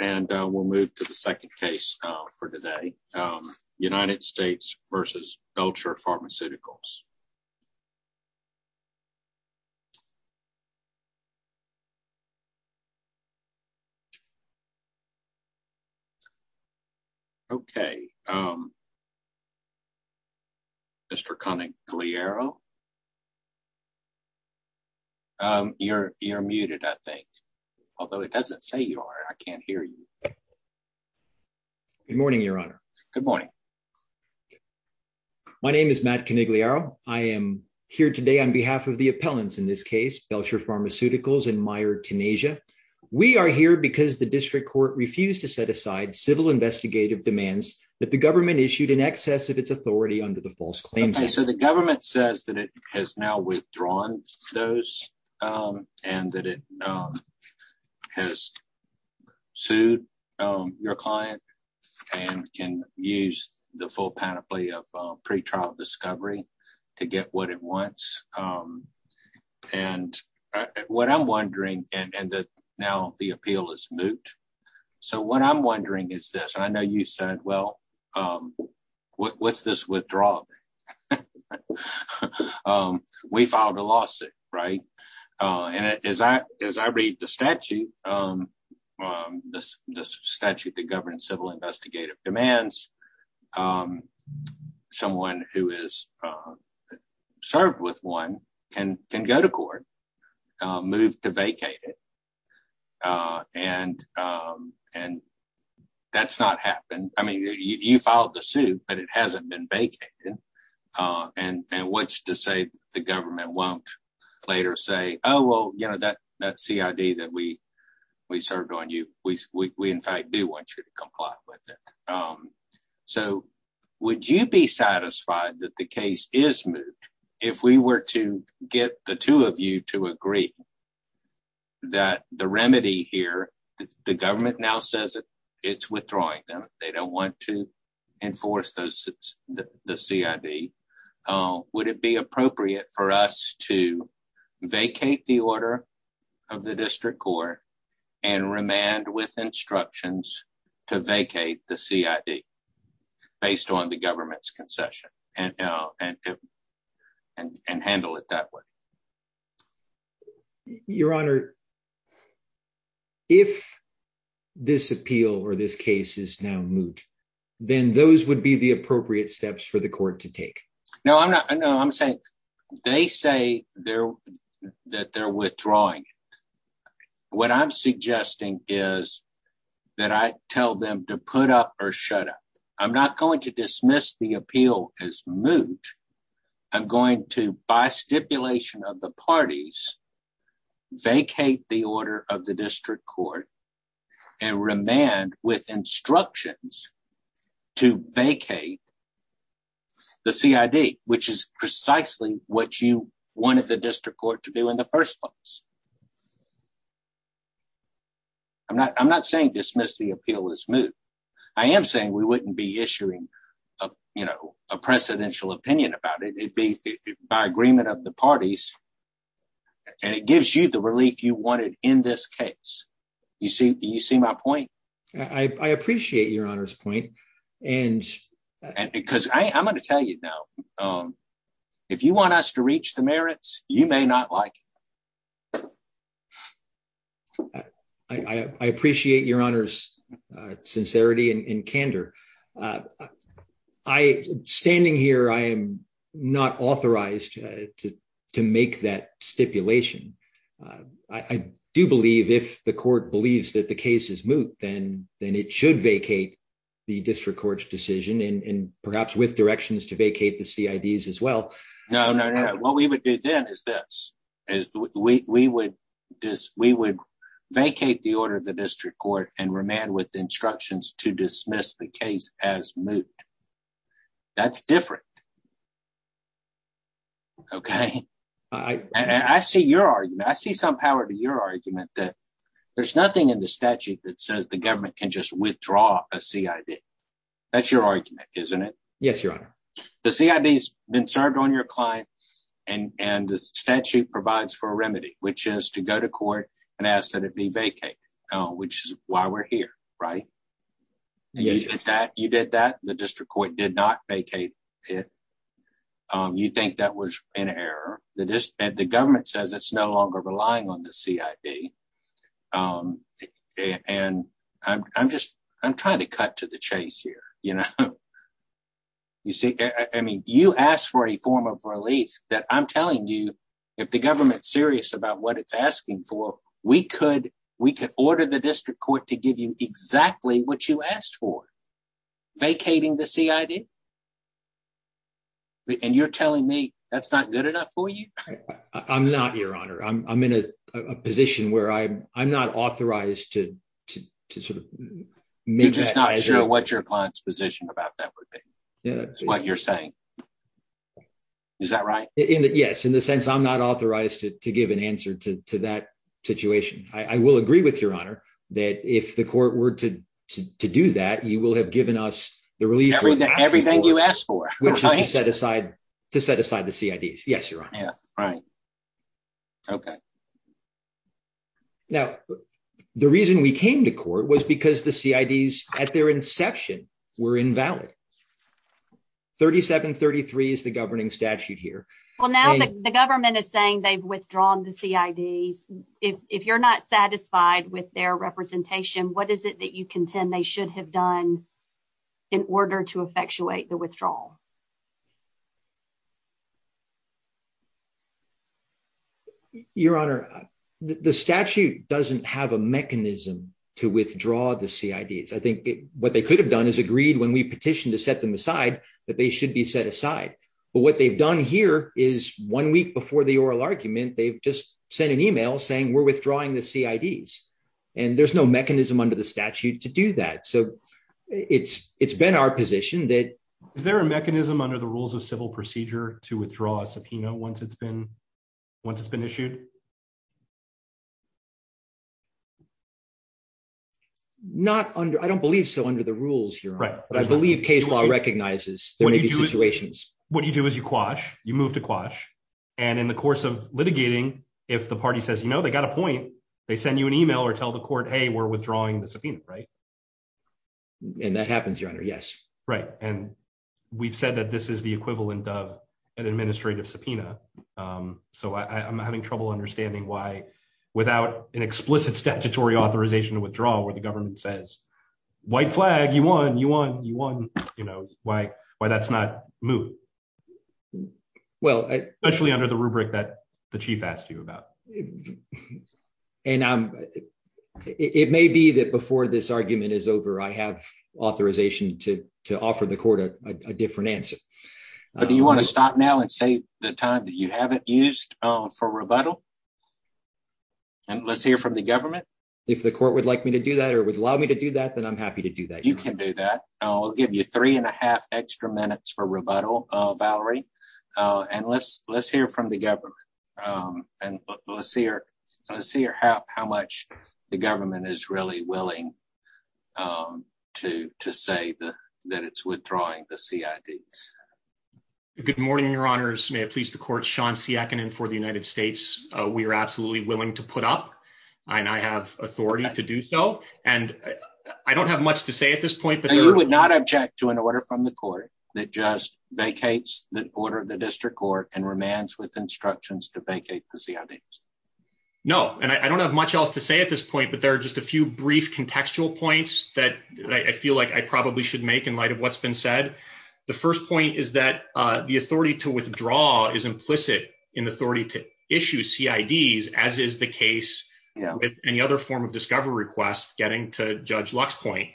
and we'll move to the second case for today, United States v. Belcher Pharmaceuticals. Okay. Mr. Conigliero. You're muted, I think. Although it doesn't say you are, I can't hear you. Good morning, Your Honor. Good morning. My name is Matt Conigliero. I am here today on behalf of the appellants in this case, Belcher Pharmaceuticals and Meijer Tenasia. We are here because the district court refused to set aside civil investigative demands that the government issued in excess of its authority under the false claims. Okay, so the government says that it has now withdrawn those and that it has sued your client and can use the full panoply of pretrial discovery to get what it wants. And what I'm wondering, and now the appeal is moot. So what I'm wondering is this, I know you said, well, what's this withdrawal? Well, we filed a lawsuit, right? And as I read the statute, the statute that governs civil investigative demands, someone who is served with one can go to court, move to vacate it. And that's not happened. I mean, you filed the suit, but it hasn't been vacated. And what's to say the government won't later say, oh, well, that CID that we served on you, we in fact do want you to comply with it. So would you be satisfied that the case is moot if we were to get the two of you to agree that the remedy here, the government now says that it's withdrawing them. They don't want to enforce the CID. Would it be appropriate for us to vacate the order of the district court and remand with instructions to vacate the CID based on the government's concession and handle it that way? Your Honor, if this appeal or this case is now moot, then those would be the appropriate steps for the court to take. No, I'm saying they say that they're withdrawing. What I'm suggesting is that I tell them to put up or shut up. I'm not going to dismiss the appeal as moot. I'm going to, by stipulation of the parties, vacate the order of the district court and remand with instructions to vacate the CID, which is precisely what you wanted the district court to do in the first place. I'm not saying dismiss the appeal as moot. I am saying we wouldn't be issuing a presidential opinion about it. It'd be by agreement of the parties and it gives you the relief you wanted in this case. Do you see my point? I appreciate Your Honor's point. Because I'm going to tell you now, if you want us to reach the merits, you may not like it. I appreciate Your Honor's sincerity and candor. Standing here, I am not authorized to make that stipulation. I do believe if the court believes that the case is moot, then it should vacate the district court's decision and perhaps with directions to vacate the CIDs as well. No, no, no. What we would do then is this. We would vacate the order of the district court and remand with instructions to dismiss the case as moot. That's different. Okay? And I see your argument. I see some power to your argument that there's nothing in the statute that says the government can just withdraw a CID. That's your argument, isn't it? Yes, Your Honor. The CID's been served on your client and the statute provides for a remedy, which is to go to court and ask that it be vacated, which is why we're here, right? Yes. You did that. The district court did not vacate it. You think that was an error. The government says it's no longer relying on the CID. And I'm just, I'm trying to cut to the chase here. You see, I mean, you asked for a form of relief that I'm telling you, if the government's serious about what it's asking for, we could order the district court to give you exactly what you asked for. Vacating the CID? And you're telling me that's not good enough for you? I'm not, Your Honor. I'm in a position where I'm not authorized to sort of make that decision. You're just not sure what your client's position about that would be, is what you're saying. Is that right? Yes, in the sense I'm not authorized to give an answer to that situation. I will agree with Your Honor that if the court were to do that, you will have given us the relief- To set aside the CIDs. Yes, Your Honor. Yeah, right. Okay. Now, the reason we came to court was because the CIDs at their inception were invalid. 3733 is the governing statute here. Well, now the government is saying they've withdrawn the CIDs. If you're not satisfied with their representation, what is it that you contend they should have done in order to effectuate the withdrawal? Your Honor, the statute doesn't have a mechanism to withdraw the CIDs. I think what they could have done is agreed when we petitioned to set them aside that they should be set aside. But what they've done here is one week before the oral argument, they've just sent an email saying, we're withdrawing the CIDs. And there's no mechanism under the statute to do that. So it's been our position that- Is there a mechanism under the rules of the law under the rules of civil procedure to withdraw a subpoena once it's been issued? Not under, I don't believe so under the rules, Your Honor. But I believe case law recognizes there may be situations. What you do is you quash, you move to quash. And in the course of litigating, if the party says, you know, they got a point, they send you an email or tell the court, hey, we're withdrawing the subpoena, right? And that happens, Your Honor, yes. Right, and we've said that this is the equivalent of an administrative subpoena. So I'm having trouble understanding why without an explicit statutory authorization to withdraw where the government says, white flag, you won, you won, you won, you know, why that's not moot? Well- Especially under the rubric that the chief asked you about. And it may be that before this argument is over, I have authorization to offer the court a different answer. But do you want to stop now and say the time that you haven't used for rebuttal? And let's hear from the government. If the court would like me to do that or would allow me to do that, then I'm happy to do that. You can do that. I'll give you three and a half extra minutes for rebuttal, Valerie. And let's hear from the government. And let's see how much the government is really willing to say that it's withdrawing the CIDs. Good morning, your honors. May it please the court, Sean Siakinen for the United States. We are absolutely willing to put up and I have authority to do so. And I don't have much to say at this point- And you would not object to an order from the court that just vacates the order of the district court and remands with instructions to vacate the CIDs? No, and I don't have much else to say at this point, but there are just a few brief contextual points that I feel like I probably should make in light of what's been said. The first point is that the authority to withdraw is implicit in the authority to issue CIDs, as is the case with any other form of discovery request getting to Judge Lux's point.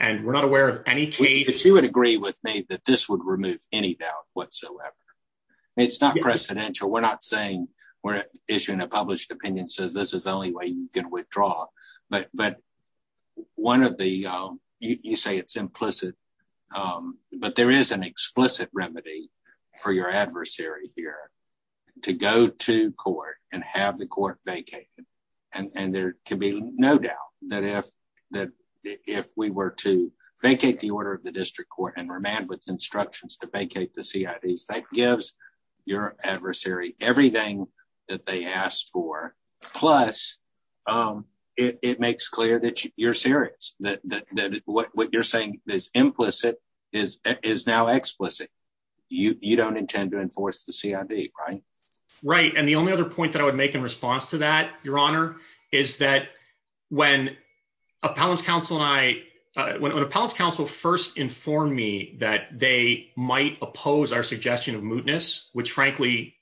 And we're not aware of any case- She would agree with me that this would remove any doubt whatsoever. It's not precedential. We're not saying we're issuing a published opinion says this is the only way you can withdraw. But one of the... You say it's implicit, but there is an explicit remedy for your adversary here to go to court and have the court vacate. And there can be no doubt that if we were to vacate the order of the district court and remand with instructions to vacate the CIDs, that gives your adversary everything that they asked for. Plus, it makes clear that you're serious, that what you're saying is implicit is now explicit. You don't intend to enforce the CID, right? Right, and the only other point that I would make in response to that, Your Honor, is that when an appellant's counsel first informed me that they might oppose our suggestion of mootness, which frankly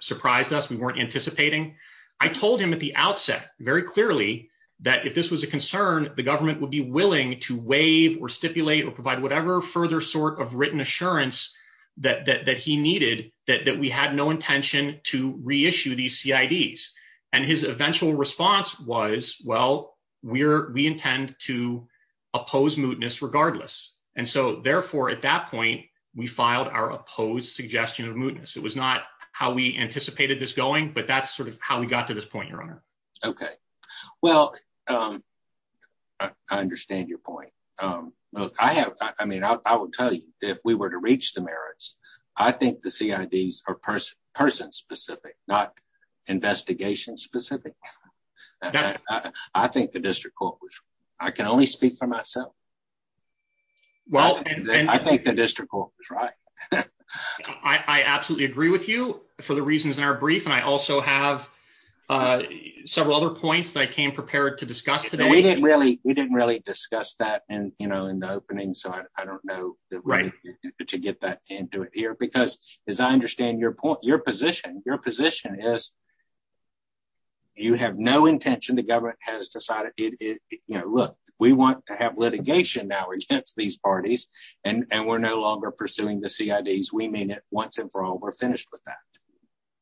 surprised us, we weren't anticipating, I told him at the outset, very clearly, that if this was a concern, the government would be willing to waive or stipulate or provide whatever further sort of written assurance that he needed, that we had no intention to reissue these CIDs. And his eventual response was, well, we intend to oppose mootness regardless. And so therefore, at that point, we filed our opposed suggestion of mootness. It was not how we anticipated this going, but that's sort of how we got to this point, Your Honor. Okay, well, I understand your point. Look, I have, I mean, I would tell you, if we were to reach the merits, I think the CIDs are person-specific, not investigation-specific. I think the district court was, I can only speak for myself. Well, and- I think the district court was right. I absolutely agree with you for the reasons in our brief, and I also have several other points that I came prepared to discuss today. We didn't really discuss that in the opening, so I don't know the right to get that into it here, because as I understand your point, your position, your position is you have no intention, the government has decided, look, we want to have litigation now against these parties, and we're no longer pursuing the CIDs. We mean it once and for all, we're finished with that.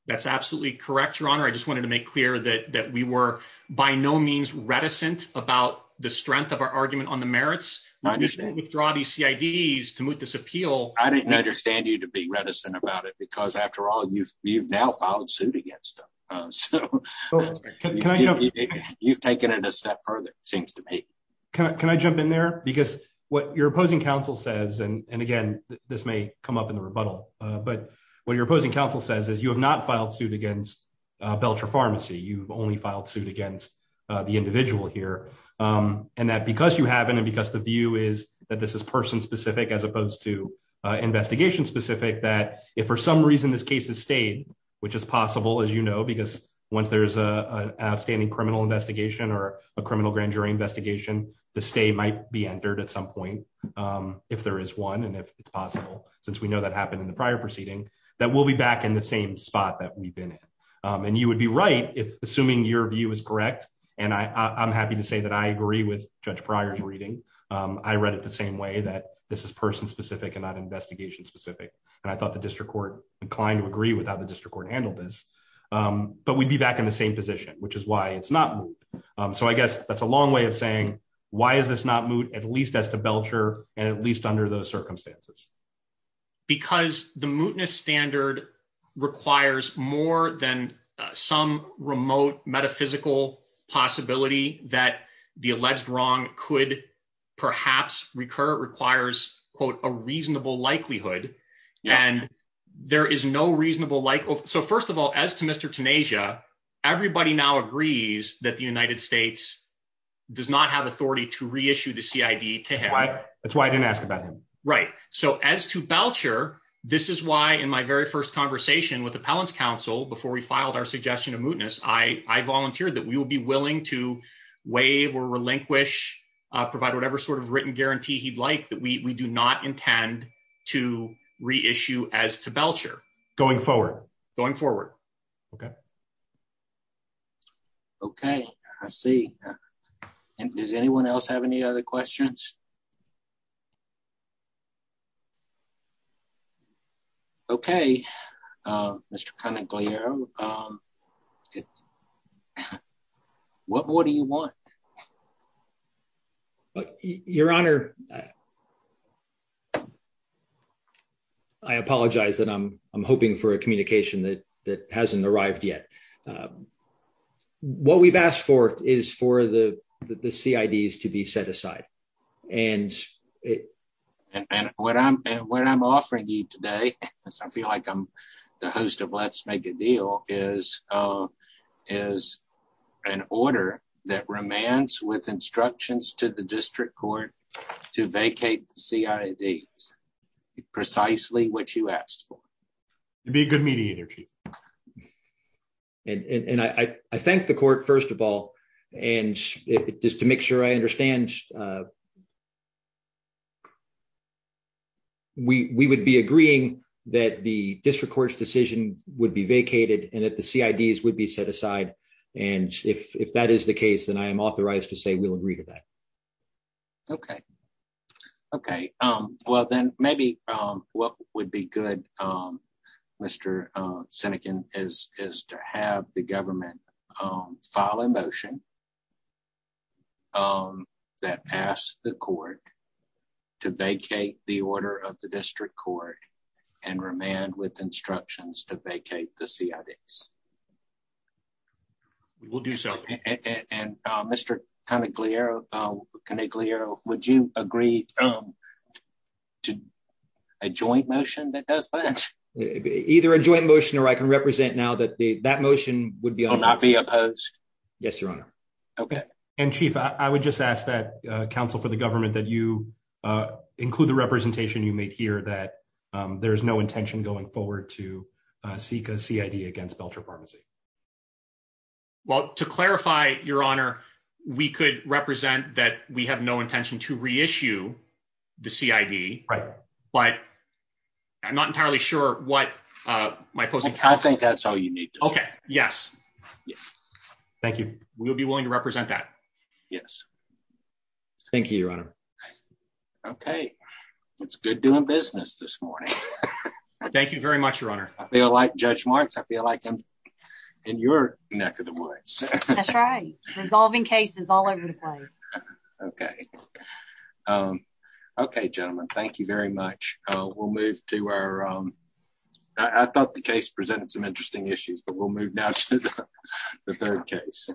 That's absolutely correct, Your Honor. I just wanted to make clear that we were by no means reticent about the strength of our argument on the merits. I just didn't withdraw these CIDs to moot this appeal. I didn't understand you to be reticent about it, because after all, you've now filed suit against us. So you've taken it a step further, it seems to me. Can I jump in there? Because what your opposing counsel says, and again, this may come up in the rebuttal, but what your opposing counsel says is you have not filed suit against Belcher Pharmacy. You've only filed suit against the individual here, and that because you haven't, and because the view is that this is person-specific as opposed to investigation-specific, that if for some reason this case is stayed, which is possible, as you know, because once there's an outstanding criminal investigation or a criminal grand jury investigation, the stay might be entered at some point, if there is one, and if it's possible, since we know that happened in the prior proceeding, that we'll be back in the same spot that we've been in. And you would be right if, assuming your view is correct, and I'm happy to say that I agree with Judge Pryor's reading. I read it the same way, that this is person-specific and not investigation-specific, and I thought the district court inclined to agree with how the district court handled this, but we'd be back in the same position, which is why it's not moot. So I guess that's a long way of saying, why is this not moot, at least as to Belcher, and at least under those circumstances? Because the mootness standard requires more than some remote metaphysical possibility that the alleged wrong could perhaps recur. It requires, quote, a reasonable likelihood, and there is no reasonable like... So first of all, as to Mr. Tanasia, everybody now agrees that the United States does not have authority to reissue the CID to him. That's why I didn't ask about him. Right, so as to Belcher, this is why in my very first conversation with Appellant's counsel, before we filed our suggestion of mootness, I volunteered that we will be willing to waive or relinquish, provide whatever sort of written guarantee he'd like that we do not intend to reissue as to Belcher. Going forward. Going forward. Okay. Okay, I see. And does anyone else have any other questions? Okay, Mr. Conant-Gallero, what more do you want? Your Honor, I apologize that I'm hoping for a communication that hasn't arrived yet. What we've asked for is for the CIDs to be set aside. And it... And what I'm offering you today, as I feel like I'm the host of Let's Make a Deal, is an order that remains with instructions to the district court to vacate the CIDs, precisely what you asked for. It'd be a good meeting either, Chief. And I thank the court, first of all, and just to make sure I understand, we would be agreeing that the district court's decision would be vacated and that the CIDs would be set aside. And if that is the case, then I am authorized to say we'll agree to that. Okay. Okay. Well, then maybe what would be good, Mr. Senekin, is to have the government file a motion that asks the court to vacate the order of the district court and remand with instructions to vacate the CIDs. We'll do so. And Mr. Canegliero, would you agree to a joint motion that does that? Either a joint motion or I can represent now that that motion would be- Will not be opposed. Yes, Your Honor. Okay. And Chief, I would just ask that counsel for the government that you include the representation you made here that there's no intention going forward to seek a CID against Belcher Pharmacy. Well, to clarify, Your Honor, we could represent that we have no intention to reissue the CID, but I'm not entirely sure what my opposing- I think that's all you need to say. Okay, yes. Thank you. We'll be willing to represent that. Thank you, Your Honor. Okay. It's good doing business this morning. Thank you very much, Your Honor. I feel like Judge Marks. I feel like I'm in your neck of the woods. That's right. Resolving cases all over the place. Okay. Okay, gentlemen, thank you very much. We'll move to our... I thought the case presented some interesting issues, but we'll move now to the third case.